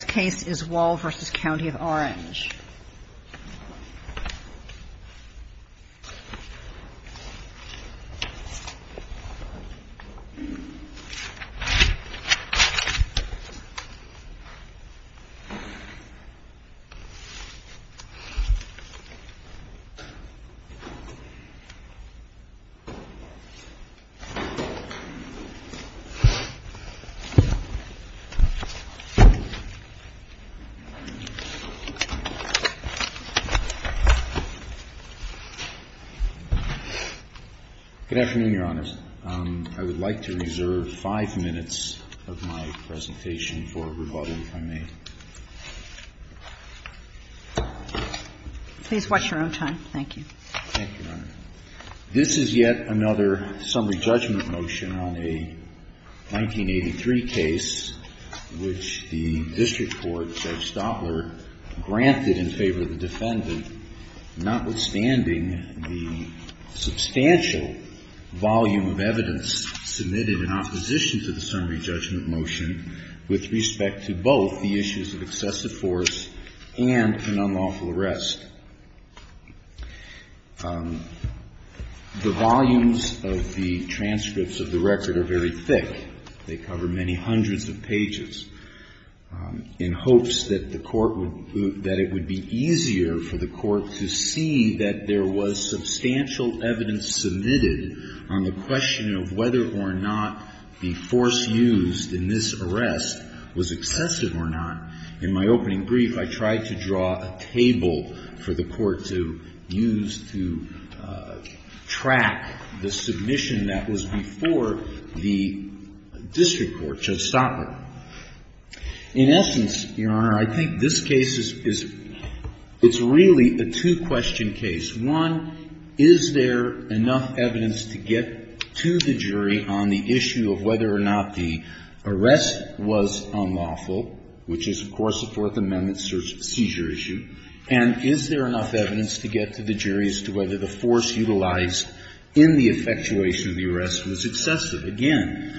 This case is WALL v. COUNTY OF ORANGE. Good afternoon, Your Honors. I would like to reserve 5 minutes of my presentation for rebuttal, if I may. Please watch your own time. Thank you, Your Honor. This is yet another summary judgment motion on a 1983 case which the district court, Judge Stopler, granted in favor of the defendant, notwithstanding the substantial volume of evidence submitted in opposition to the summary judgment motion with respect to both the issues of excessive force and an unlawful arrest. The volumes of the transcripts of the record are very thick. They cover many hundreds of pages, in hopes that the court would, that it would be easier for the court to see that there was substantial evidence submitted on the question of whether or not the force used in this arrest was excessive or not. In my opening brief, I tried to draw a table for the court to use to track the submission that was before the district court, Judge Stopler. In essence, Your Honor, I think this case is, it's really a two-question case. One, is there enough evidence to get to the jury on the issue of whether or not the arrest was unlawful, which is, of course, a Fourth Amendment seizure issue? And is there enough evidence to get to the jury as to whether the force utilized in the effectuation of the arrest was excessive? Again,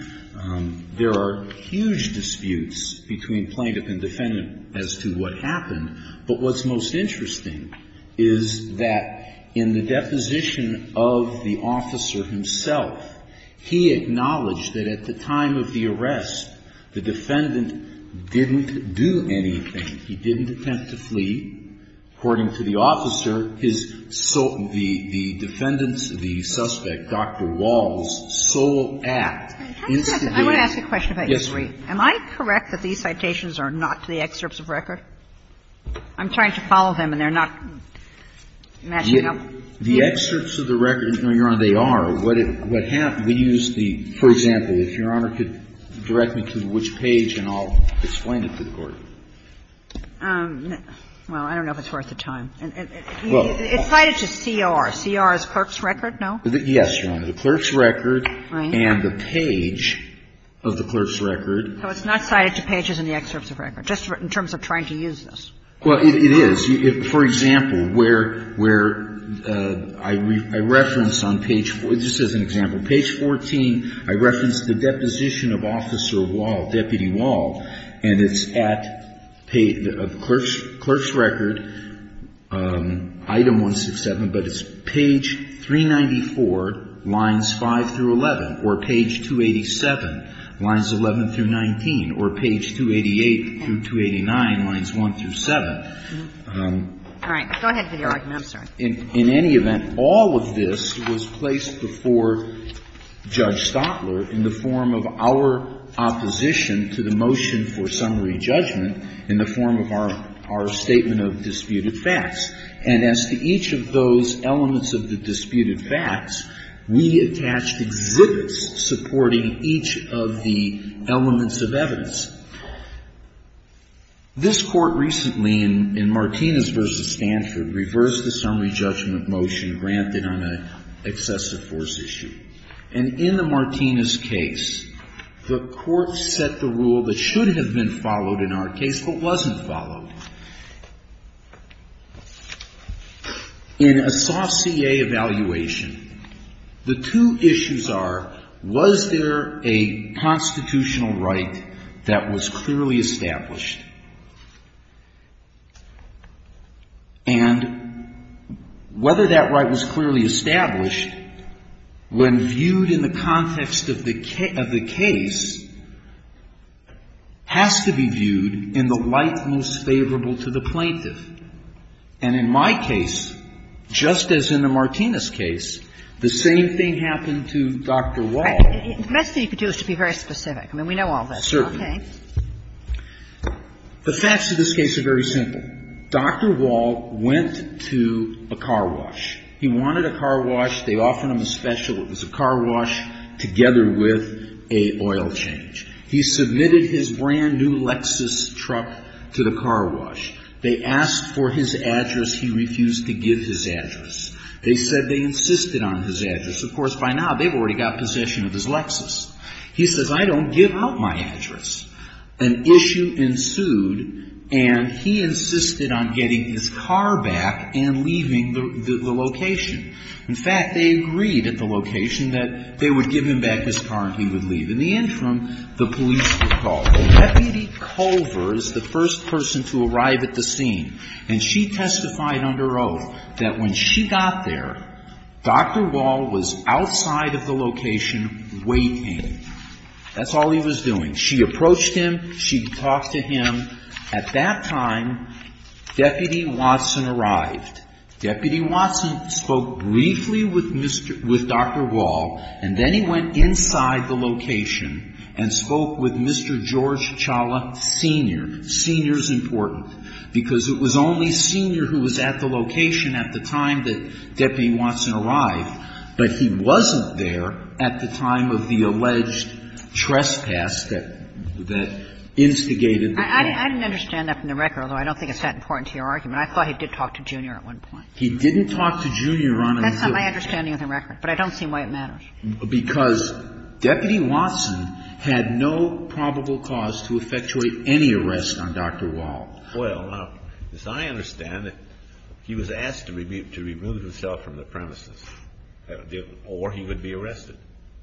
there are huge disputes between plaintiff and defendant as to what happened. But what's most interesting is that in the deposition of the officer himself, he acknowledged that at the time of the arrest, the defendant didn't do anything. He didn't attempt to flee. According to the officer, his sole, the defendant's, the suspect, Dr. Wall's sole act is to do with the arrest. I want to ask a question about history. Am I correct that these citations are not to the excerpts of record? I'm trying to follow them, and they're not matching up. The excerpts of the record, no, Your Honor, they are. What happened, we used the, for example, if Your Honor could direct me to which page and I'll explain it to the court. Well, I don't know if it's worth the time. It's cited to CR. CR is clerk's record, no? Yes, Your Honor. The clerk's record and the page of the clerk's record. So it's not cited to pages in the excerpts of record, just in terms of trying to use this? Well, it is. For example, where I reference on page, just as an example, page 14, I reference the deposition of Officer Wall, Deputy Wall, and it's at page, clerk's record, item 167, but it's page 394, lines 5 through 11, or page 287, lines 11 through 19, or page 288 through 289, lines 1 through 7. All right. In any event, all of this was placed before Judge Stopler in the form of our opposition to the motion for summary judgment in the form of our statement of disputed facts. And as to each of those elements of the disputed facts, we attached exhibits supporting each of the elements of evidence. This Court recently, in Martinez v. Stanford, reversed the summary judgment motion granted on an excessive force issue. And in the Martinez case, the Court set the rule that should have been followed in our case, but wasn't followed. In a saucier evaluation, the two issues are, was there a constitutional right that was clearly established? And whether that right was clearly established, when viewed in the context of the case, has to be viewed in the light most favorable to the plaintiff. And in my case, just as in the Martinez case, the same thing happened to Dr. Wall. The best thing you could do is to be very specific. I mean, we know all this. Certainly. The facts of this case are very simple. Dr. Wall went to a car wash. He wanted a car wash. They offered him a special. It was a car wash together with an oil change. He submitted his brand-new Lexus truck to the car wash. They asked for his address. He refused to give his address. They said they insisted on his address. Of course, by now, they've already got possession of his Lexus. He says, I don't give out my address. An issue ensued, and he insisted on getting his car back and leaving the location. In fact, they agreed at the location that they would give him back his car and he would leave. In the interim, the police were called. Deputy Culver is the first person to arrive at the scene, and she testified under oath that when she got there, Dr. Wall was outside of the location waiting. That's all he was doing. She approached him. She talked to him. At that time, Deputy Watson arrived. Deputy Watson spoke briefly with Dr. Wall, and then he went inside the location and spoke with Mr. George Chawla Sr. Mr. Chawla Sr. is important because it was only Sr. who was at the location at the time that Deputy Watson arrived, but he wasn't there at the time of the alleged trespass that instigated the crime. I didn't understand that from the record, although I don't think it's that important to your argument. I thought he did talk to Jr. at one point. He didn't talk to Jr. on a regular basis. That's not my understanding of the record, but I don't see why it matters. Because Deputy Watson had no probable cause to effectuate any arrest on Dr. Wall. Well, as I understand it, he was asked to remove himself from the premises, or he would be arrested.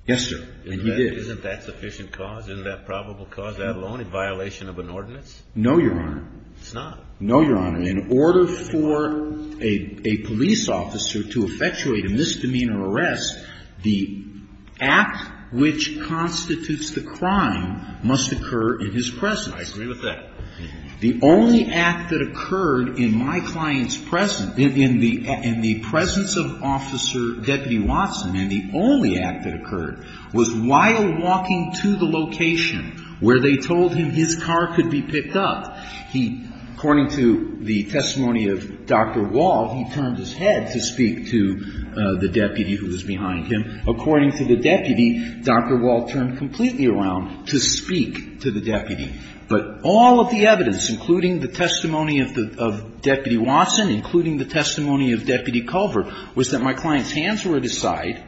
Yes, sir. And he did. Isn't that sufficient cause? Isn't that probable cause, let alone in violation of an ordinance? No, Your Honor. It's not. No, Your Honor. In order for a police officer to effectuate a misdemeanor arrest, the act which constitutes the crime must occur in his presence. I agree with that. The only act that occurred in my client's presence, in the presence of Officer Deputy Watson, and the only act that occurred, was while walking to the location where they told him his car could be picked up. According to the testimony of Dr. Wall, he turned his head to speak to the deputy who was behind him. According to the deputy, Dr. Wall turned completely around to speak to the deputy. But all of the evidence, including the testimony of Deputy Watson, including the testimony of Deputy Culvert, was that my client's hands were at his side.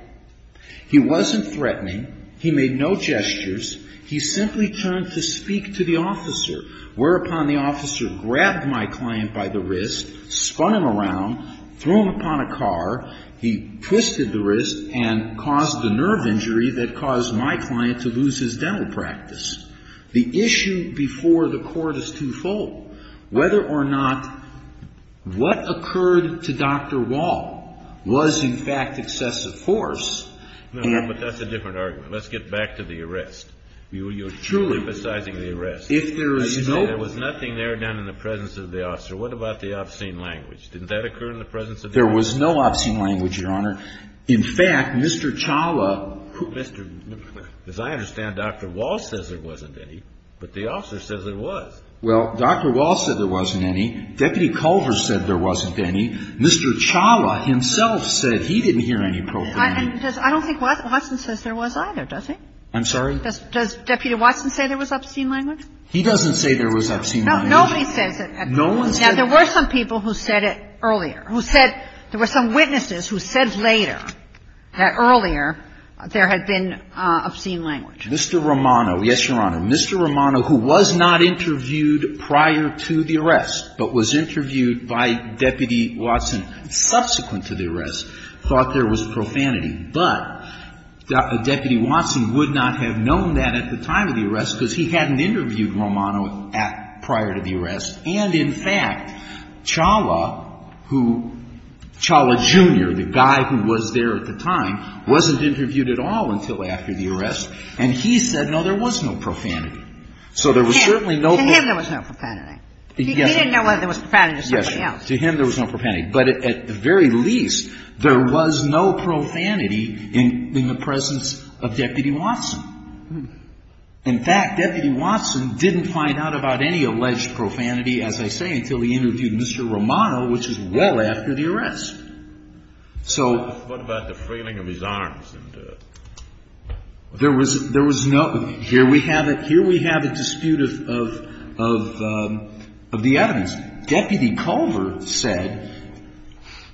He wasn't threatening. He made no gestures. He simply turned to speak to the officer, whereupon the officer grabbed my client by the wrist, spun him around, threw him upon a car. He twisted the wrist and caused a nerve injury that caused my client to lose his dental practice. The issue before the Court is twofold. Whether or not what occurred to Dr. Wall was, in fact, excessive force. And But that's a different argument. Let's get back to the arrest. You're truly emphasizing the arrest. If there is no There was nothing there done in the presence of the officer. What about the obscene language? Didn't that occur in the presence of the officer? There was no obscene language, Your Honor. In fact, Mr. Chawla As I understand, Dr. Wall says there wasn't any, but the officer says there was. Well, Dr. Wall said there wasn't any. Deputy Culvert said there wasn't any. Mr. Chawla himself said he didn't hear any profanity. I don't think Watson says there was either, does he? I'm sorry? Does Deputy Watson say there was obscene language? He doesn't say there was obscene language. Nobody says it. Now, there were some people who said it earlier, who said there were some witnesses who said later that earlier there had been obscene language. Mr. Romano, yes, Your Honor. Mr. Romano, who was not interviewed prior to the arrest, but was interviewed by Deputy Watson subsequent to the arrest, thought there was profanity. But Deputy Watson would not have known that at the time of the arrest because he hadn't interviewed Romano prior to the arrest. And, in fact, Chawla, who Chawla, Jr., the guy who was there at the time, wasn't interviewed at all until after the arrest. And he said, no, there was no profanity. So there was certainly no To him there was no profanity. He didn't know whether there was profanity or something else. Yes, Your Honor. To him there was no profanity. But at the very least, there was no profanity in the presence of Deputy Watson. In fact, Deputy Watson didn't find out about any alleged profanity, as I say, until he interviewed Mr. Romano, which is well after the arrest. So What about the frailing of his arms? There was no. Here we have a dispute of the evidence. Deputy Culver said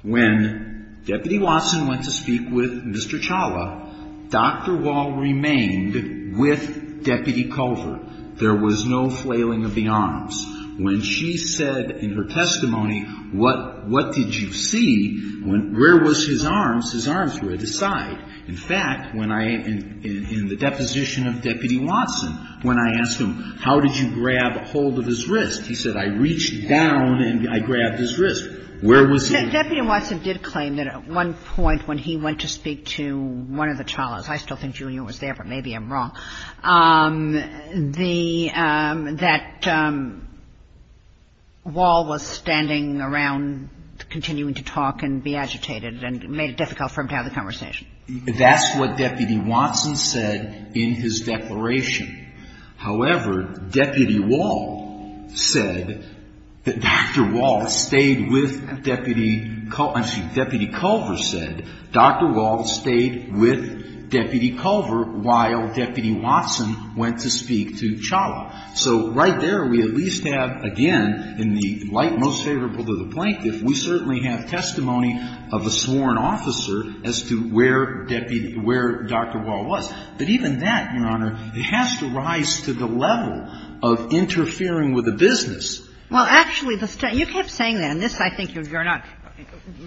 when Deputy Watson went to speak with Mr. Chawla, Dr. Wall remained with Deputy Culver. There was no flailing of the arms. When she said in her testimony, what did you see? Where was his arms? Where was his arms? Were they at his side? In fact, when I, in the deposition of Deputy Watson, when I asked him, how did you grab hold of his wrist? He said, I reached down and I grabbed his wrist. Where was he? Deputy Watson did claim that at one point when he went to speak to one of the Chawlas – I still think Junior was there, but maybe I'm wrong – that Wall was standing continuing to talk and be agitated and made it difficult for him to have the conversation. That's what Deputy Watson said in his declaration. However, Deputy Wall said that Dr. Wall stayed with Deputy – I'm sorry, Deputy Culver said Dr. Wall stayed with Deputy Culver while Deputy Watson went to speak to Chawla. So right there we at least have, again, in the light most favorable to the plaintiff, we certainly have testimony of a sworn officer as to where Deputy – where Dr. Wall was. But even that, Your Honor, it has to rise to the level of interfering with a business. Well, actually, the – you kept saying that, and this I think you're not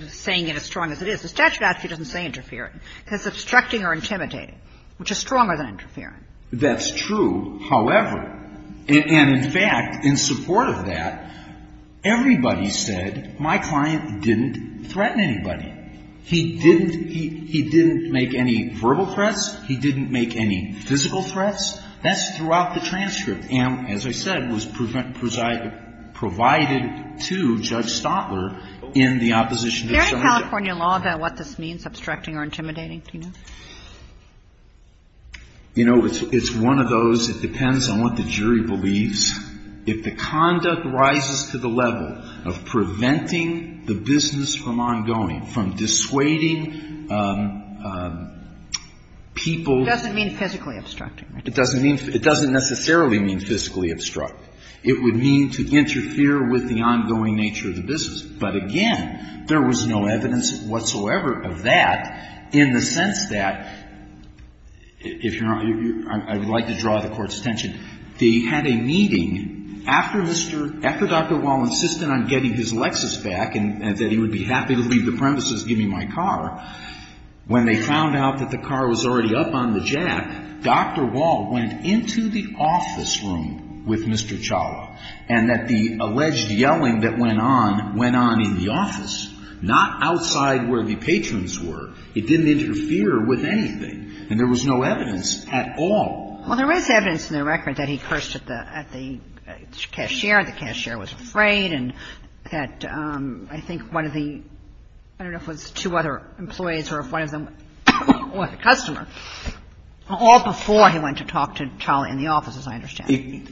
saying it as strong as it is. The statute actually doesn't say interfering. It says obstructing or intimidating, which is stronger than interfering. That's true. However, and in fact, in support of that, everybody said my client didn't threaten anybody. He didn't – he didn't make any verbal threats. He didn't make any physical threats. That's throughout the transcript and, as I said, was provided to Judge Stotler in the opposition to Chawla. Is there any California law about what this means, obstructing or intimidating, do you know? You know, it's one of those, it depends on what the jury believes, if the conduct rises to the level of preventing the business from ongoing, from dissuading people. It doesn't mean physically obstructing, right? It doesn't mean – it doesn't necessarily mean physically obstruct. It would mean to interfere with the ongoing nature of the business. But again, there was no evidence whatsoever of that in the sense that, if you're not – I would like to draw the Court's attention. They had a meeting after Mr. – after Dr. Wall insisted on getting his Lexus back and that he would be happy to leave the premises, give me my car. When they found out that the car was already up on the jack, Dr. Wall went into the office, not outside where the patrons were. It didn't interfere with anything. And there was no evidence at all. Well, there is evidence in the record that he cursed at the cashier, the cashier was afraid, and that I think one of the – I don't know if it was two other employees or if one of them was a customer, all before he went to talk to Chawla in the office, as I understand.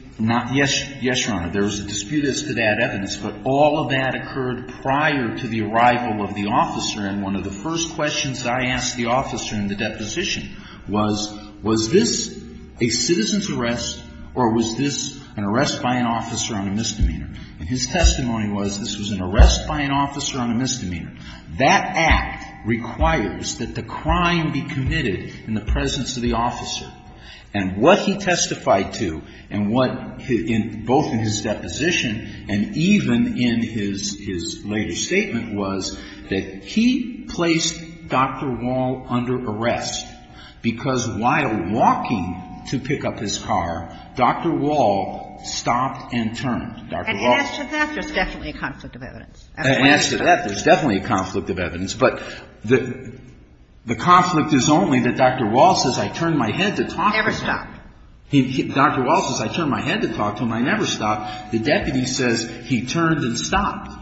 Yes, Your Honor. There is a dispute as to that evidence. But all of that occurred prior to the arrival of the officer. And one of the first questions that I asked the officer in the deposition was, was this a citizen's arrest or was this an arrest by an officer on a misdemeanor? And his testimony was this was an arrest by an officer on a misdemeanor. That act requires that the crime be committed in the presence of the officer. And what he testified to and what, both in his deposition and even in his later statement, was that he placed Dr. Wall under arrest because while walking to pick up his car, Dr. Wall stopped and turned. Dr. Wall. And as to that, there's definitely a conflict of evidence. And as to that, there's definitely a conflict of evidence. But the conflict is only that Dr. Wall says, I turned my head to talk to him. Never stopped. Dr. Wall says, I turned my head to talk to him. I never stopped. The deputy says, he turned and stopped.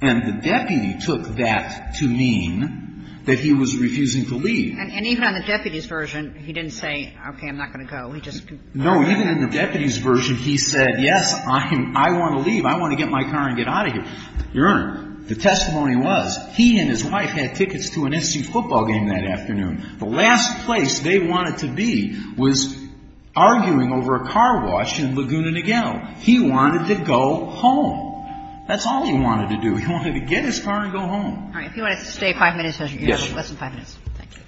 And the deputy took that to mean that he was refusing to leave. And even on the deputy's version, he didn't say, okay, I'm not going to go. He just. No, even in the deputy's version, he said, yes, I want to leave. I want to get my car and get out of here. Your Honor, the testimony was, he and his wife had tickets to an NC football game that afternoon. The last place they wanted to be was arguing over a car wash in Laguna Niguel. He wanted to go home. That's all he wanted to do. He wanted to get his car and go home. All right. If you want to stay five minutes, you have less than five minutes. Thank you.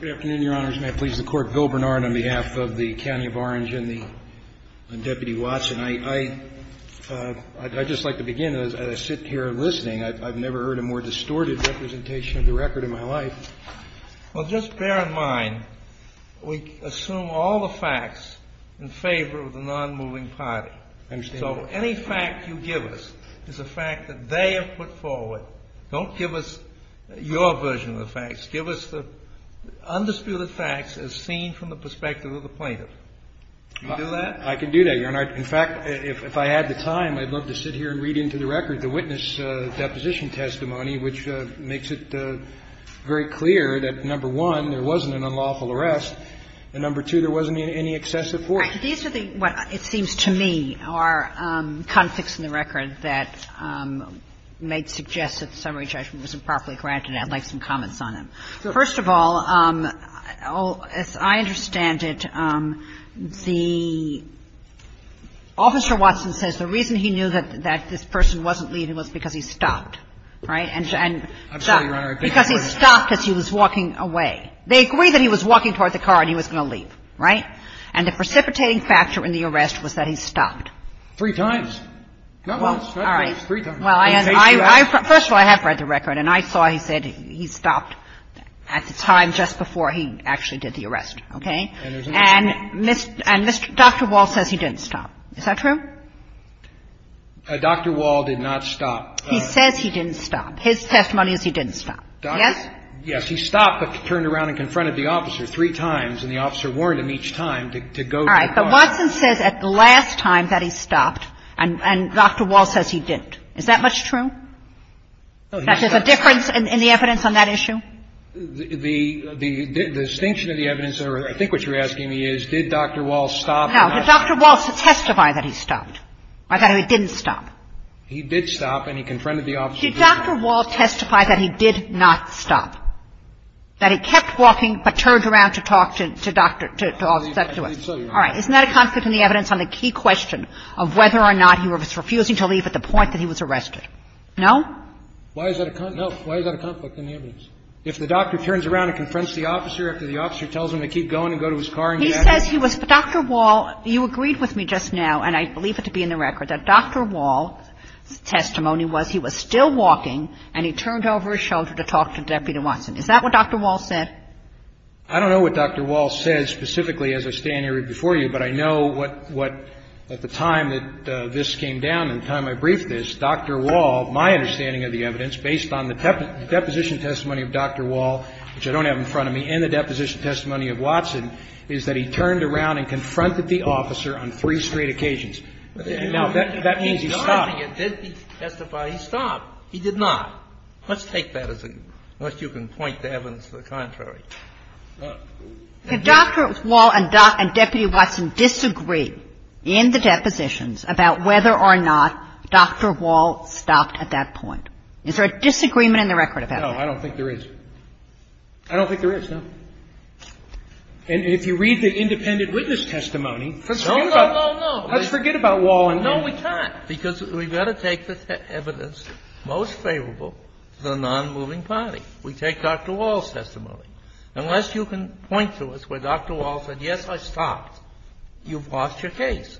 Good afternoon, Your Honors. May it please the Court. Bill Bernard on behalf of the County of Orange and Deputy Watson. I'd just like to begin as I sit here listening. I've never heard a more distorted representation of the record in my life. Well, just bear in mind, we assume all the facts in favor of the nonmoving party. I understand. So any fact you give us is a fact that they have put forward. Don't give us your version of the facts. Give us the undisputed facts as seen from the perspective of the plaintiff. Can you do that? I can do that, Your Honor. In fact, if I had the time, I'd love to sit here and read into the record the witness deposition testimony, which makes it very clear that, number one, there wasn't an unlawful arrest, and, number two, there wasn't any excessive force. Right. These are the ones, it seems to me, are conflicts in the record that may suggest that the summary judgment was improperly granted. I'd like some comments on them. First of all, as I understand it, the ---- Officer Watson says the reason he knew that this person wasn't leaving was because he stopped. Right? I'm sorry, Your Honor. Because he stopped as he was walking away. They agree that he was walking toward the car and he was going to leave. Right? And the precipitating factor in the arrest was that he stopped. Three times. Not once, not twice. Three times. Well, first of all, I have read the record, and I saw he said he stopped at the time just before he actually did the arrest. Okay? And Dr. Walsh says he didn't stop. Is that true? Dr. Walsh did not stop. He says he didn't stop. His testimony is he didn't stop. Yes? Yes. He stopped but turned around and confronted the officer three times, and the officer warned him each time to go to the car. All right. But Watson says at the last time that he stopped, and Dr. Walsh says he didn't. Is that much true? No, he didn't stop. Is there a difference in the evidence on that issue? stop or not? No. Did Dr. Walsh testify that he stopped or that he didn't stop? He did stop, and he confronted the officer. Did Dr. Walsh testify that he did not stop? That he kept walking but turned around to talk to Dr. Walsh? All right. Isn't that a conflict in the evidence on the key question of whether or not he was refusing to leave at the point that he was arrested? No? Why is that a conflict? No. Why is that a conflict in the evidence? If the doctor turns around and confronts the officer after the officer tells him to keep going and go to his car and get out. He says he was Dr. Walsh. You agreed with me just now, and I believe it to be in the record, that Dr. Walsh's testimony was he was still walking and he turned over his shoulder to talk to Deputy Watson. Is that what Dr. Walsh said? I don't know what Dr. Walsh said specifically as I stand here before you, but I know what at the time that this came down and the time I briefed this, Dr. Walsh, my understanding of the evidence, based on the deposition testimony of Dr. Walsh, which I don't have in front of me, in the deposition testimony of Watson, is that he turned around and confronted the officer on three straight occasions. Now, that means he stopped. No, I think it did be testified he stopped. He did not. Let's take that as a, unless you can point to evidence to the contrary. Could Dr. Walsh and Deputy Watson disagree in the depositions about whether or not Dr. Walsh stopped at that point? Is there a disagreement in the record about that? No, I don't think there is. I don't think there is, no. And if you read the independent witness testimony, let's forget about Walsh. No, no, no, no. No, we can't. Because we've got to take the evidence most favorable to the nonmoving party. We take Dr. Walsh's testimony. Unless you can point to us where Dr. Walsh said, yes, I stopped, you've lost your case.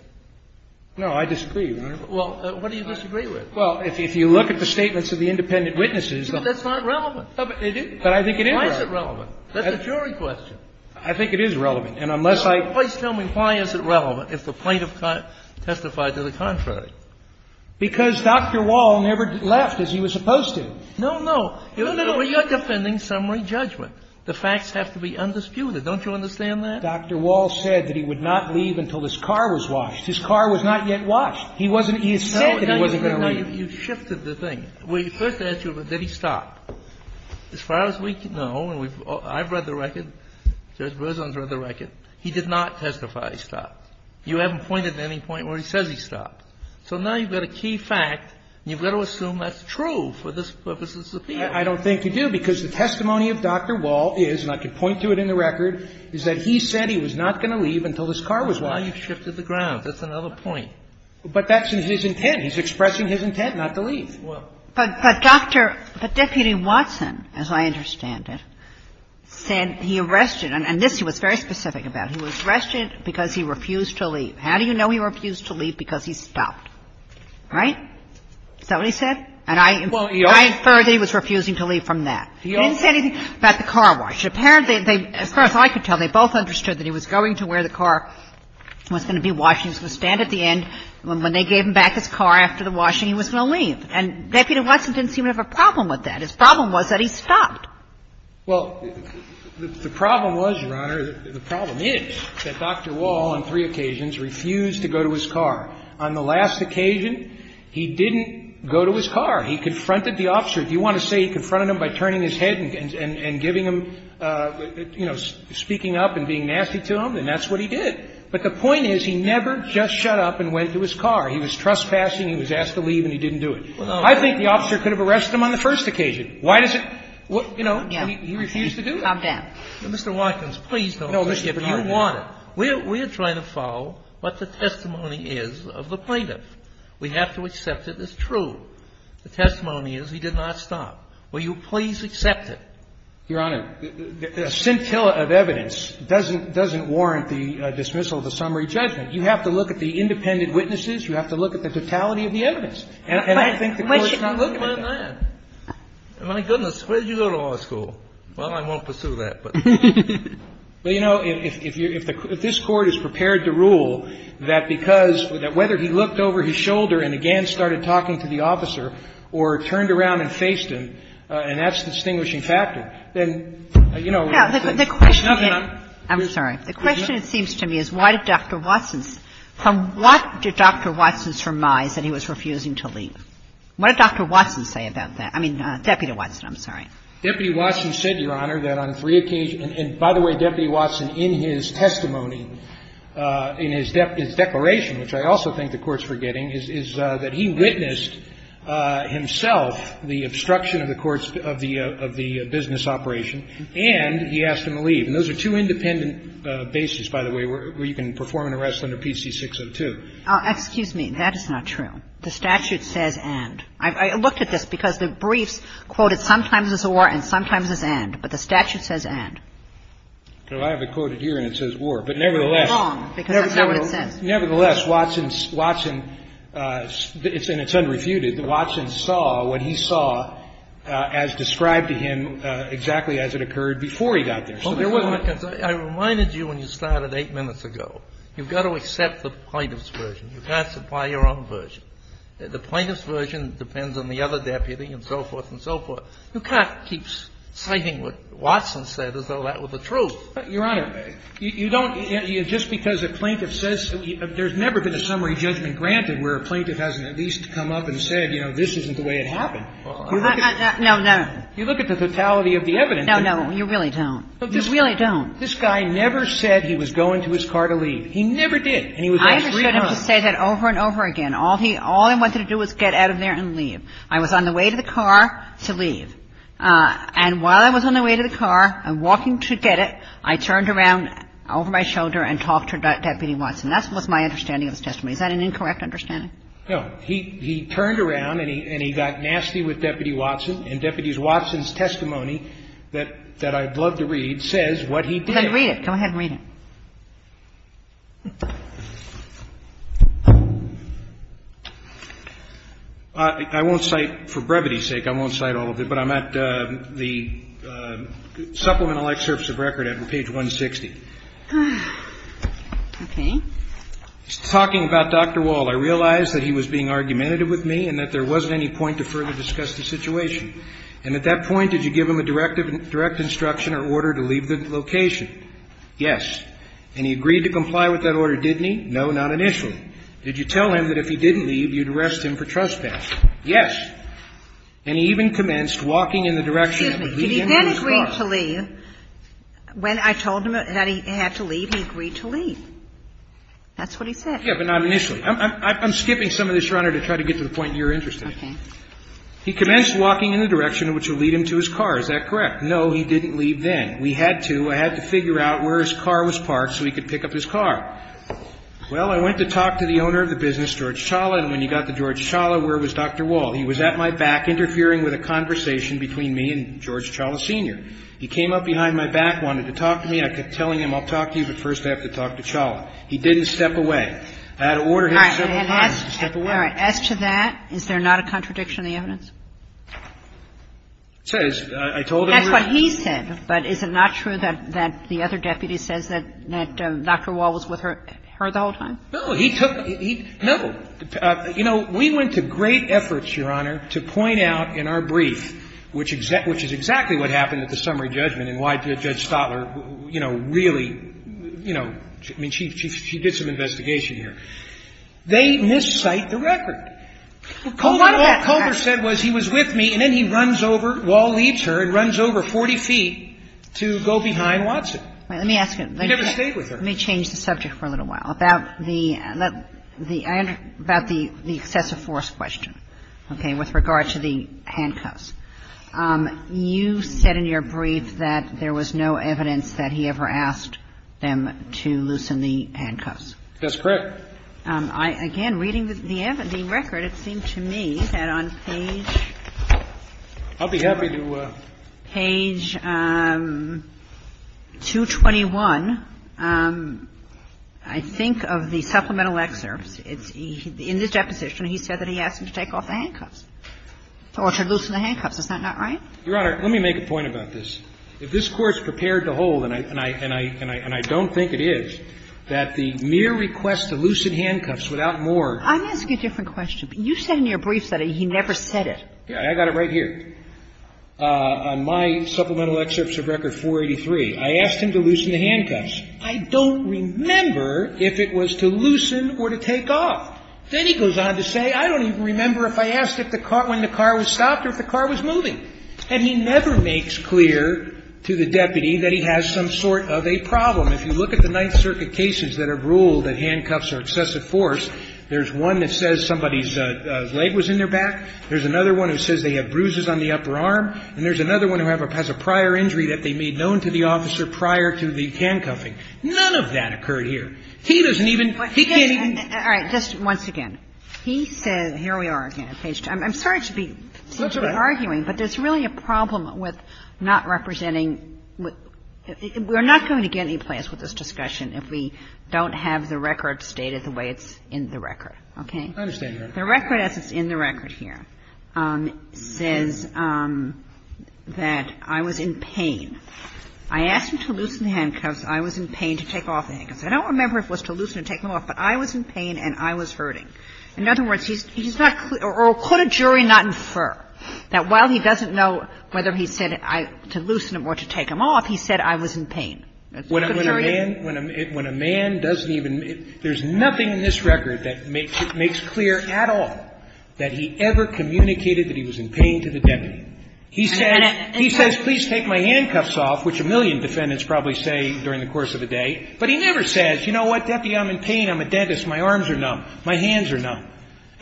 No, I disagree. Well, what do you disagree with? Well, if you look at the statements of the independent witnesses. But that's not relevant. But it is. But I think it is relevant. Why is it relevant? That's a jury question. I think it is relevant. And unless I. Please tell me why is it relevant if the plaintiff testified to the contrary? Because Dr. Walsh never left as he was supposed to. No, no. You're defending summary judgment. The facts have to be undisputed. Don't you understand that? Dr. Walsh said that he would not leave until his car was washed. His car was not yet washed. He wasn't. He said that he wasn't going to leave. No, you shifted the thing. We first asked you, did he stop? As far as we know, and I've read the record, Judge Berzon has read the record, he did not testify he stopped. You haven't pointed to any point where he says he stopped. So now you've got a key fact, and you've got to assume that's true for this purpose of this appeal. I don't think you do, because the testimony of Dr. Walsh is, and I can point to it in the record, is that he said he was not going to leave until his car was washed. That's why you shifted the grounds. That's another point. But that's in his intent. He's expressing his intent not to leave. But Dr. — but Deputy Watson, as I understand it, said he arrested — and this he was very specific about. He was arrested because he refused to leave. How do you know he refused to leave? Because he stopped. Right? Is that what he said? And I infer that he was refusing to leave from that. He didn't say anything about the car wash. Apparently, they — as far as I could tell, they both understood that he was going to where the car was going to be washed. He was going to stand at the end. When they gave him back his car after the washing, he was going to leave. And Deputy Watson didn't seem to have a problem with that. His problem was that he stopped. Well, the problem was, Your Honor, the problem is that Dr. Wall on three occasions refused to go to his car. On the last occasion, he didn't go to his car. He confronted the officer. If you want to say he confronted him by turning his head and giving him, you know, speaking up and being nasty to him, then that's what he did. But the point is he never just shut up and went to his car. He was trespassing. He was asked to leave and he didn't do it. I think the officer could have arrested him on the first occasion. Why does it — you know, he refused to do that. Sotomayor, calm down. Mr. Watkins, please don't push it. If you want it, we're trying to follow what the testimony is of the plaintiff. We have to accept it as true. The testimony is he did not stop. Will you please accept it? Your Honor, the scintilla of evidence doesn't — doesn't warrant the dismissal of the summary judgment. You have to look at the independent witnesses. You have to look at the totality of the evidence. And I think the Court's not looking at that. Sotomayor, my goodness, where did you go to law school? Well, I won't pursue that, but. Well, you know, if this Court is prepared to rule that because — that whether he looked over his shoulder and again started talking to the officer or turned around and faced him, and that's a distinguishing factor, then, you know, there's nothing I'm — I'm sorry. The question, it seems to me, is why did Dr. Watson's — from what did Dr. Watson's testimony say? Why did Dr. Watson's testimony say that he was refusing to leave? What did Dr. Watson say about that? I mean, Deputy Watson, I'm sorry. Deputy Watson said, Your Honor, that on three occasions — and by the way, Deputy Watson, in his testimony, in his declaration, which I also think the Court's forgetting, is that he witnessed himself the obstruction of the court's — of the business operation, and he asked him to leave. And those are two independent bases, by the way, where you can perform an arrest under PC 602. Oh, excuse me. That is not true. The statute says and. I looked at this because the briefs quoted sometimes as a war and sometimes as and. But the statute says and. Well, I have it quoted here, and it says war. But nevertheless — Wrong, because that's not what it says. Nevertheless, Watson — Watson — and it's unrefuted. Watson saw what he saw as described to him exactly as it occurred before he got there. But there was one concern. I reminded you when you started eight minutes ago, you've got to accept the plaintiff's version. You can't supply your own version. The plaintiff's version depends on the other deputy and so forth and so forth. You can't keep citing what Watson said as though that were the truth. Your Honor, you don't — just because a plaintiff says — there's never been a summary judgment granted where a plaintiff hasn't at least come up and said, you know, this isn't the way it happened. You look at the — No, no. You look at the totality of the evidence. No, no, you really don't. You really don't. This guy never said he was going to his car to leave. He never did. And he was there three times. I understood him to say that over and over again. All he — all he wanted to do was get out of there and leave. I was on the way to the car to leave. And while I was on the way to the car and walking to get it, I turned around over my shoulder and talked to Deputy Watson. That was my understanding of his testimony. Is that an incorrect understanding? No. He — he turned around and he got nasty with Deputy Watson. And Deputy Watson's testimony that — that I'd love to read says what he did. Go ahead and read it. Go ahead and read it. I won't cite — for brevity's sake, I won't cite all of it. But I'm at the Supplemental Excerpts of Record at page 160. Okay. It's talking about Dr. Wald. I realized that he was being argumentative with me and that there wasn't any point to further discuss the situation. And at that point, did you give him a direct instruction or order to leave the location? Yes. And he agreed to comply with that order, didn't he? No, not initially. Did you tell him that if he didn't leave, you'd arrest him for trespass? Yes. And he even commenced walking in the direction that would lead him to his car. Excuse me. Did he then agree to leave? When I told him that he had to leave, he agreed to leave. That's what he said. Yeah, but not initially. I'm skipping some of this, Your Honor, to try to get to the point you're interested in. He commenced walking in the direction which would lead him to his car. Is that correct? No, he didn't leave then. We had to. I had to figure out where his car was parked so he could pick up his car. Well, I went to talk to the owner of the business, George Chawla, and when you got to George Chawla, where was Dr. Wald? He was at my back interfering with a conversation between me and George Chawla Sr. He came up behind my back, wanted to talk to me. I kept telling him, I'll talk to you, but first I have to talk to Chawla. He didn't step away. I had to order him several times to step away. All right. As to that, is there not a contradiction in the evidence? I told him. That's what he said. But is it not true that the other deputy says that Dr. Wald was with her the whole time? No. He took no. You know, we went to great efforts, Your Honor, to point out in our brief, which is exactly what happened at the summary judgment and why Judge Stotler, you know, really, you know, I mean, she did some investigation here. They miscite the record. What Comer said was he was with me and then he runs over, Wald leaves her and runs over 40 feet to go behind Watson. Let me ask you. He never stayed with her. Let me change the subject for a little while. About the excessive force question, okay, with regard to the handcuffs. You said in your brief that there was no evidence that he ever asked them to loosen the handcuffs. That's correct. Again, reading the record, it seemed to me that on page 221, I think of the supplemental excerpts, in his deposition he said that he asked him to take off the handcuffs or to loosen the handcuffs. Is that not right? Your Honor, let me make a point about this. If this Court's prepared to hold, and I don't think it is, that the mere request to loosen handcuffs without more. I'm asking a different question. You said in your brief that he never said it. I got it right here. On my supplemental excerpts of record 483, I asked him to loosen the handcuffs. I don't remember if it was to loosen or to take off. Then he goes on to say, I don't even remember if I asked when the car was stopped or if the car was moving. And he never makes clear to the deputy that he has some sort of a problem. If you look at the Ninth Circuit cases that have ruled that handcuffs are excessive force, there's one that says somebody's leg was in their back. There's another one that says they have bruises on the upper arm. And there's another one that has a prior injury that they made known to the officer prior to the handcuffing. None of that occurred here. He doesn't even – he can't even – All right. Just once again. He said – here we are again. I'm sorry to be arguing, but there's really a problem with not representing – we're not going to get any place with this discussion if we don't have the record stated the way it's in the record. Okay? I understand, Your Honor. The record as it's in the record here says that I was in pain. I asked him to loosen the handcuffs. I was in pain to take off the handcuffs. I don't remember if it was to loosen or take them off, but I was in pain and I was injured. In other words, he's not – or could a jury not infer that while he doesn't know whether he said to loosen them or to take them off, he said I was in pain? Could a jury? When a man – when a man doesn't even – there's nothing in this record that makes clear at all that he ever communicated that he was in pain to the deputy. He says, please take my handcuffs off, which a million defendants probably say during the course of a day, but he never says, you know what, deputy, I'm in pain, I'm a dentist, my arms are numb. My hands are numb.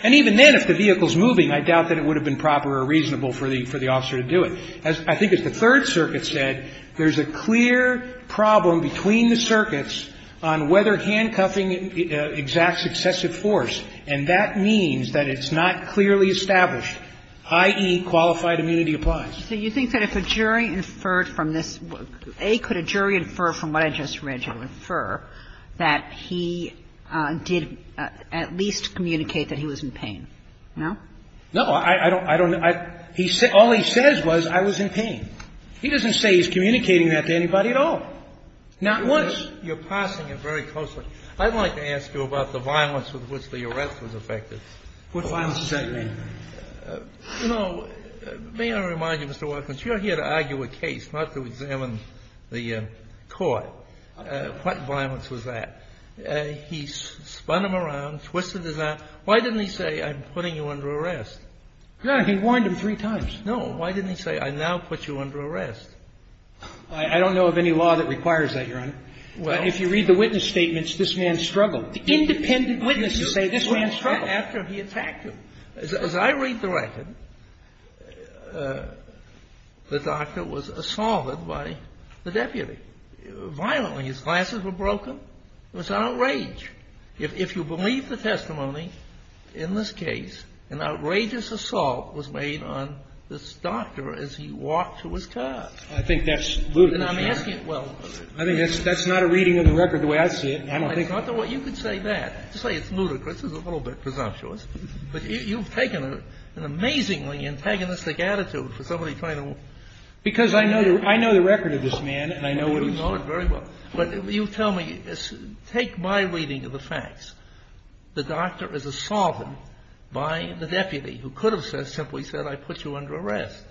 And even then, if the vehicle's moving, I doubt that it would have been proper or reasonable for the – for the officer to do it. I think as the Third Circuit said, there's a clear problem between the circuits on whether handcuffing exacts excessive force, and that means that it's not clearly established, i.e., qualified immunity applies. So you think that if a jury inferred from this – A, could a jury infer from what I just read you infer that he did at least communicate that he was in pain? No? No. I don't – I don't – he – all he says was I was in pain. He doesn't say he's communicating that to anybody at all. Now, once you're parsing it very closely, I'd like to ask you about the violence with which the arrest was affected. What violence does that mean? You know, may I remind you, Mr. Watkins, you're here to argue a case, not to examine the court. What violence was that? He spun him around, twisted his arm. Why didn't he say, I'm putting you under arrest? Your Honor, he warned him three times. No. Why didn't he say, I now put you under arrest? I don't know of any law that requires that, Your Honor. If you read the witness statements, this man struggled. Independent witnesses say this man struggled. After he attacked him. As I read the record, the doctor was assaulted by the deputy. Violently. His glasses were broken. It was an outrage. If you believe the testimony in this case, an outrageous assault was made on this doctor as he walked to his car. I think that's ludicrous, Your Honor. And I'm asking – well. I think that's not a reading of the record the way I see it. I don't think – You could say that. To say it's ludicrous is a little bit presumptuous. But you've taken an amazingly antagonistic attitude for somebody trying to – Because I know the record of this man and I know what he's doing. You know it very well. But you tell me, take my reading of the facts. The doctor is assaulted by the deputy who could have simply said, I put you under arrest.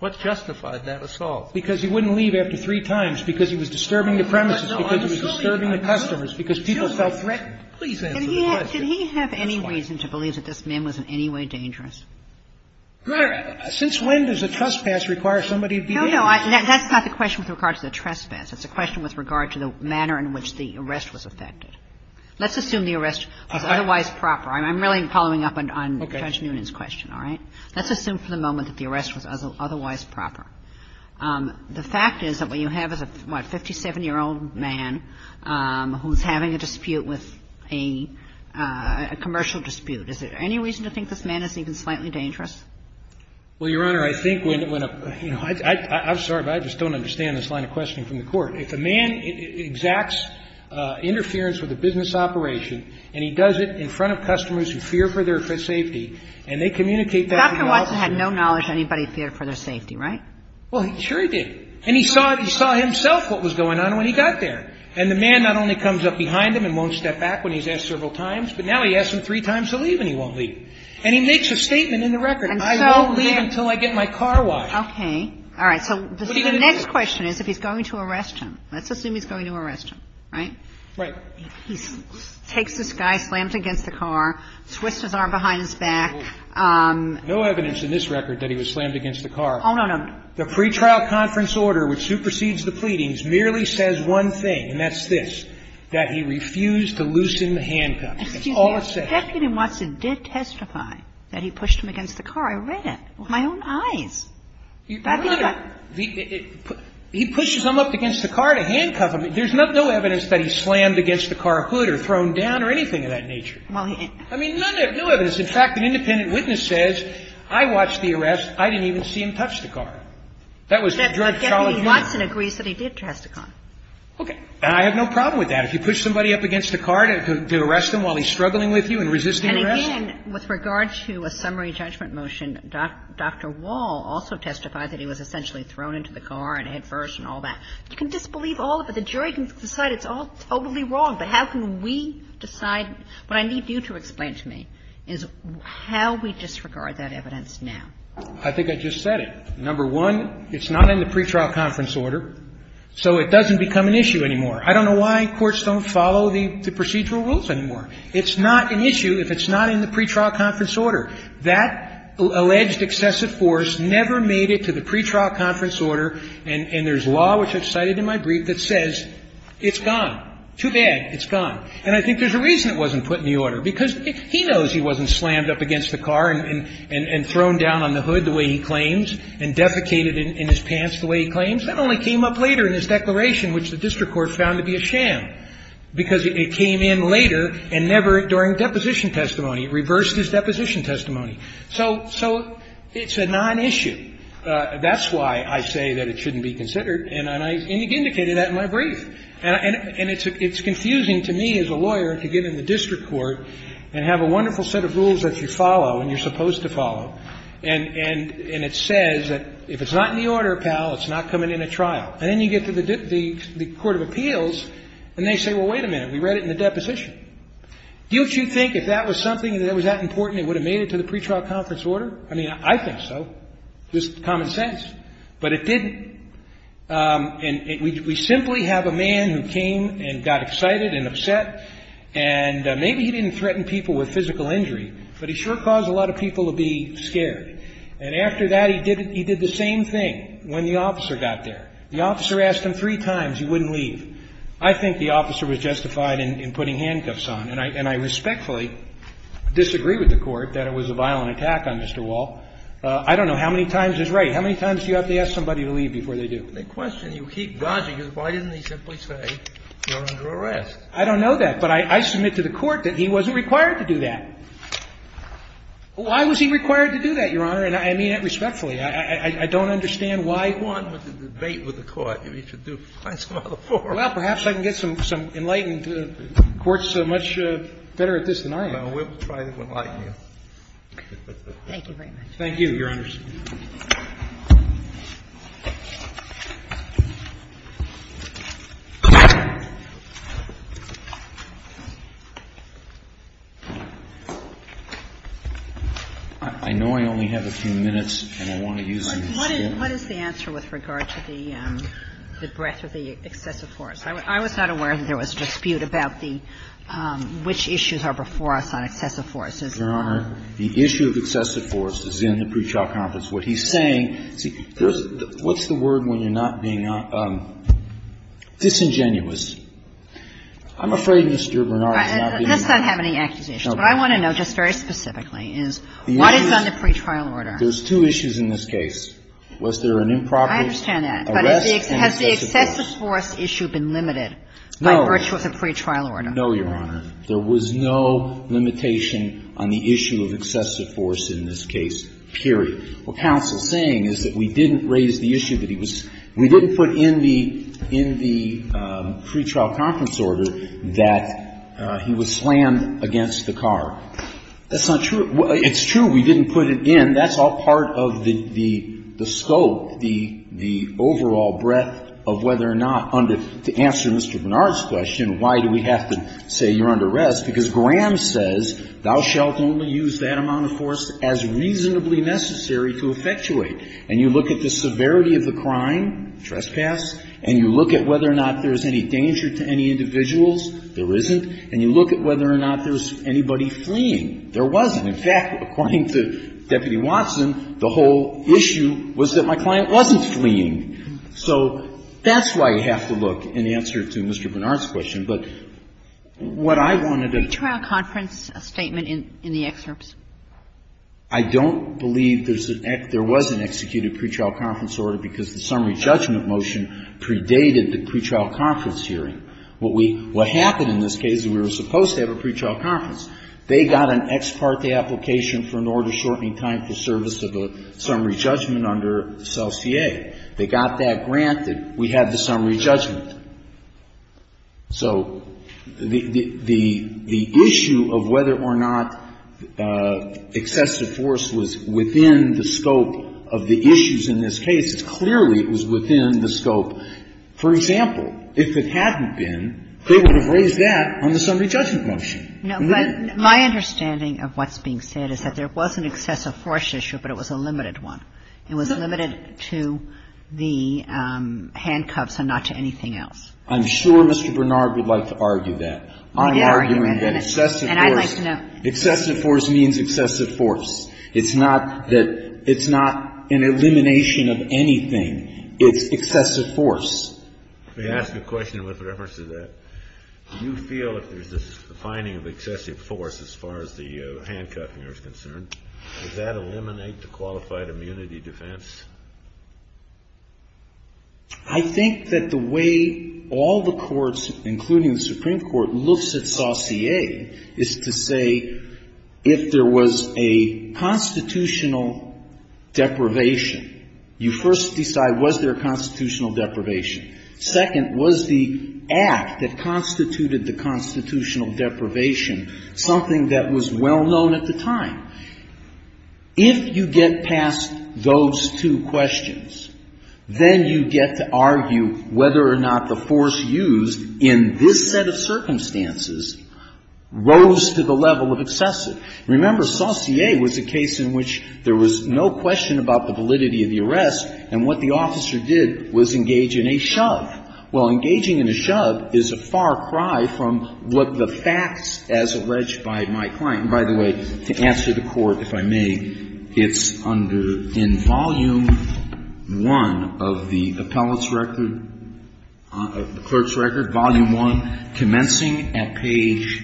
What justified that assault? Because he wouldn't leave after three times because he was disturbing the premises, because he was disturbing the customers, because people felt threatened. Please answer the question. Did he have any reason to believe that this man was in any way dangerous? Since when does a trespass require somebody to be dangerous? No, no. That's not the question with regard to the trespass. It's a question with regard to the manner in which the arrest was effected. Let's assume the arrest was otherwise proper. I'm really following up on Judge Noonan's question, all right? Let's assume for the moment that the arrest was otherwise proper. The fact is that what you have is a, what, 57-year-old man who's having a dispute with a commercial dispute. Is there any reason to think this man is even slightly dangerous? Well, Your Honor, I think when a, you know, I'm sorry, but I just don't understand this line of questioning from the Court. If a man exacts interference with a business operation and he does it in front of customers who fear for their safety and they communicate that to the officer. Dr. Watson had no knowledge anybody feared for their safety, right? Well, sure he did. And he saw himself what was going on when he got there. And the man not only comes up behind him and won't step back when he's asked several times, but now he asked him three times to leave and he won't leave. And he makes a statement in the record. I won't leave until I get my car wiped. Okay. All right. So the next question is if he's going to arrest him. Let's assume he's going to arrest him, right? Right. He takes this guy, slams him against the car, twists his arm behind his back. No evidence in this record that he was slammed against the car. Oh, no, no. The pre-trial conference order which supersedes the pleadings merely says one thing, and that's this, that he refused to loosen the handcuff. That's all it says. Excuse me. Deputy Watson did testify that he pushed him against the car. I read it with my own eyes. He pushes him up against the car to handcuff him. There's no evidence that he slammed against the car hood or thrown down or anything of that nature. I mean, no evidence. In fact, an independent witness says, I watched the arrest. I didn't even see him touch the car. That was the jury's solid evidence. Deputy Watson agrees that he did touch the car. Okay. And I have no problem with that. If you push somebody up against the car to arrest him while he's struggling with you and resisting arrest? And again, with regard to a summary judgment motion, Dr. Wall also testified that he was essentially thrown into the car and hit first and all that. You can disbelieve all of it. The jury can decide it's all totally wrong. But how can we decide? What I need you to explain to me is how we disregard that evidence now. I think I just said it. Number one, it's not in the pretrial conference order, so it doesn't become an issue anymore. I don't know why courts don't follow the procedural rules anymore. It's not an issue if it's not in the pretrial conference order. That alleged excessive force never made it to the pretrial conference order. And there's law, which I've cited in my brief, that says it's gone. Too bad. It's gone. And I think there's a reason it wasn't put in the order, because he knows he wasn't thrown down on the hood the way he claims and defecated in his pants the way he claims. That only came up later in his declaration, which the district court found to be a sham, because it came in later and never during deposition testimony. It reversed his deposition testimony. So it's a nonissue. That's why I say that it shouldn't be considered, and I indicated that in my brief. And it's confusing to me as a lawyer to get in the district court and have a wonderful set of rules that you follow and you're supposed to follow, and it says that if it's not in the order, pal, it's not coming in a trial. And then you get to the court of appeals, and they say, well, wait a minute. We read it in the deposition. Don't you think if that was something that was that important, it would have made it to the pretrial conference order? I mean, I think so. Just common sense. But it didn't. And we simply have a man who came and got excited and upset, and maybe he didn't threaten people with physical injury, but he sure caused a lot of people to be scared. And after that, he did the same thing when the officer got there. The officer asked him three times he wouldn't leave. I think the officer was justified in putting handcuffs on. And I respectfully disagree with the Court that it was a violent attack on Mr. Wall. I don't know how many times is right. How many times do you have to ask somebody to leave before they do? The question you keep dodging is why didn't he simply say you're under arrest? I don't know that. But I submit to the Court that he wasn't required to do that. Why was he required to do that, Your Honor? And I mean that respectfully. I don't understand why. If you want to debate with the Court, you should find some other forum. Well, perhaps I can get some enlightened courts so much better at this than I am. No, we'll try to enlighten you. Thank you very much. Thank you, Your Honors. I know I only have a few minutes, and I want to use them. What is the answer with regard to the breadth of the excessive force? I was not aware that there was a dispute about the which issues are before us on excessive force. Your Honor, the issue of excessive force is in the pretrial conference. What he's saying, see, what's the word when you're not being disingenuous? I'm afraid, Mr. Bernard, I'm not getting that. Let's not have any accusations. What I want to know just very specifically is what is on the pretrial order? There's two issues in this case. Was there an improper arrest? I understand that. But has the excessive force issue been limited by virtue of the pretrial order? No, Your Honor. There was no limitation on the issue of excessive force in this case, period. What counsel is saying is that we didn't raise the issue that he was we didn't put in the pretrial conference order that he was slammed against the car. That's not true. It's true we didn't put it in. That's all part of the scope, the overall breadth of whether or not under to answer Mr. Bernard's question, why do we have to say you're under arrest, because Graham says thou shalt only use that amount of force as reasonably necessary to effectuate. And you look at the severity of the crime, trespass, and you look at whether or not there's any danger to any individuals. There isn't. And you look at whether or not there's anybody fleeing. There wasn't. In fact, according to Deputy Watson, the whole issue was that my client wasn't fleeing. So that's why you have to look, in answer to Mr. Bernard's question. But what I wanted to do to do. Kagan. Pretrial conference statement in the excerpts. I don't believe there was an executed pretrial conference order because the summary judgment motion predated the pretrial conference hearing. What happened in this case is we were supposed to have a pretrial conference. They got an ex parte application for an order shortening time for service of a summary judgment under CELSIA. Okay. They got that granted. We have the summary judgment. So the issue of whether or not excessive force was within the scope of the issues in this case, clearly it was within the scope. For example, if it hadn't been, they would have raised that on the summary judgment motion. No. But my understanding of what's being said is that there was an excessive force issue, but it was a limited one. It was limited to the handcuffs and not to anything else. I'm sure Mr. Bernard would like to argue that. I'm arguing that excessive force. And I'd like to know. Excessive force means excessive force. It's not that it's not an elimination of anything. It's excessive force. Let me ask you a question with reference to that. Do you feel if there's this finding of excessive force as far as the handcuffing is concerned, does that eliminate the qualified immunity defense? I think that the way all the courts, including the Supreme Court, looks at CELSIA is to say if there was a constitutional deprivation, you first decide was there constitutional deprivation. Second, was the act that constituted the constitutional deprivation something that was well known at the time? If you get past those two questions, then you get to argue whether or not the force used in this set of circumstances rose to the level of excessive. Remember, CELSIA was a case in which there was no question about the validity of the arrest, and what the officer did was engage in a shove. Well, engaging in a shove is a far cry from what the facts as alleged by my client and, by the way, to answer the Court, if I may, it's under in Volume I of the appellate's record, the clerk's record, Volume I, commencing at page,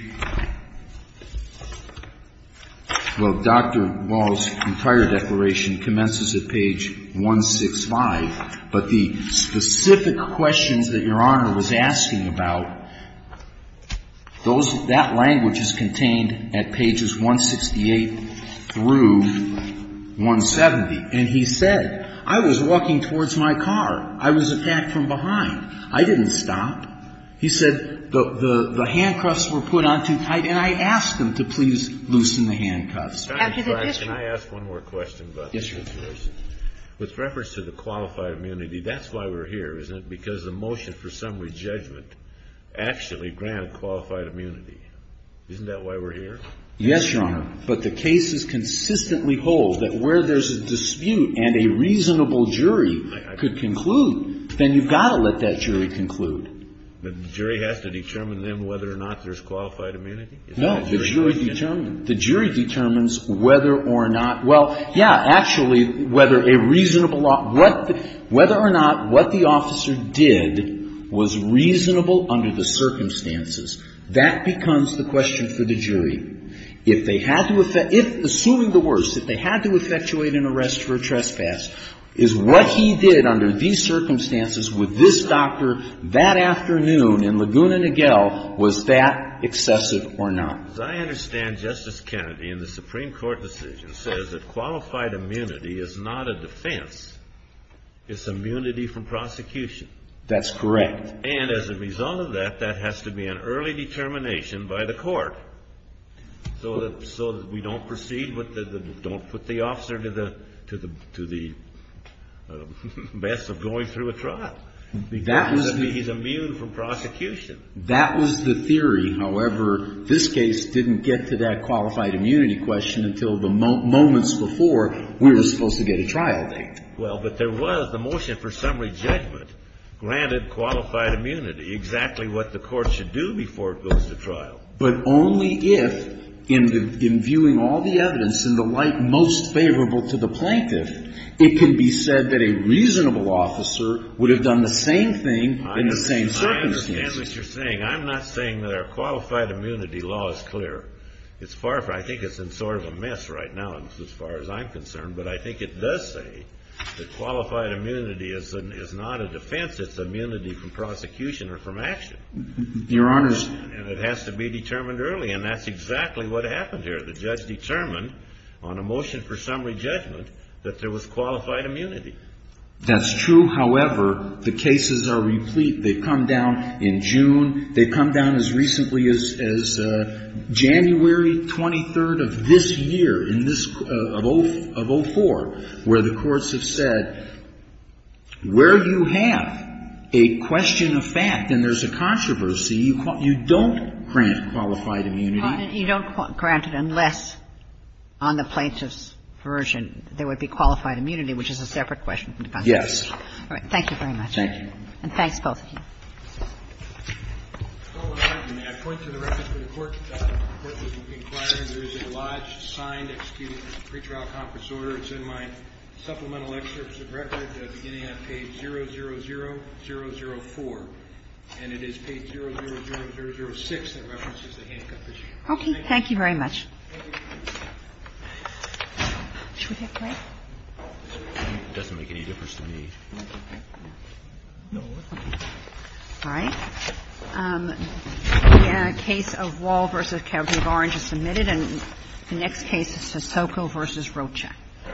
well, Dr. Wall's entire declaration commences at page 165, but the specific question that I'm going to ask you, the questions that Your Honor was asking about, that language is contained at pages 168 through 170. And he said, I was walking towards my car. I was attacked from behind. I didn't stop. He said the handcuffs were put on too tight, and I asked him to please loosen the handcuffs. Can I ask one more question? Yes, Your Honor. With reference to the qualified immunity, that's why we're here, isn't it? Because the motion for summary judgment actually granted qualified immunity. Isn't that why we're here? Yes, Your Honor. But the cases consistently hold that where there's a dispute and a reasonable jury could conclude, then you've got to let that jury conclude. But the jury has to determine then whether or not there's qualified immunity? No, the jury determines whether or not, well, yeah, actually, whether a reasonable law, whether or not what the officer did was reasonable under the circumstances. That becomes the question for the jury. If they had to, assuming the worst, if they had to effectuate an arrest for a trespass, is what he did under these circumstances with this doctor that afternoon in Laguna Niguel, was that excessive or not? As I understand, Justice Kennedy, in the Supreme Court decision, says that qualified immunity is not a defense. It's immunity from prosecution. That's correct. And as a result of that, that has to be an early determination by the court so that we don't proceed with the, don't put the officer to the best of going through a trial. He's immune from prosecution. That was the theory. However, this case didn't get to that qualified immunity question until the moments before we were supposed to get a trial date. Well, but there was the motion for summary judgment granted qualified immunity, exactly what the court should do before it goes to trial. But only if, in the, in viewing all the evidence in the light most favorable to the plaintiff, it can be said that a reasonable officer would have done the same thing in the same circumstances. I understand what you're saying. I'm not saying that our qualified immunity law is clear. It's far from, I think it's in sort of a mess right now as far as I'm concerned. But I think it does say that qualified immunity is not a defense. It's immunity from prosecution or from action. Your Honors. And it has to be determined early. And that's exactly what happened here. The judge determined on a motion for summary judgment that there was qualified immunity. That's true. However, the cases are replete. They come down in June. They've come down as recently as January 23rd of this year, in this, of 04, where the courts have said, where you have a question of fact and there's a controversy, you don't grant qualified immunity. You don't grant it unless on the plaintiff's version there would be qualified immunity, which is a separate question from the controversy. Yes. All right. Thank you very much. And thanks both of you. Okay. Thank you very much. Should we take a break? It doesn't make any difference to me. All right. The case of Wall v. Calgary-Barnes is submitted. And the next case is Sissoko v. Rocha. All right.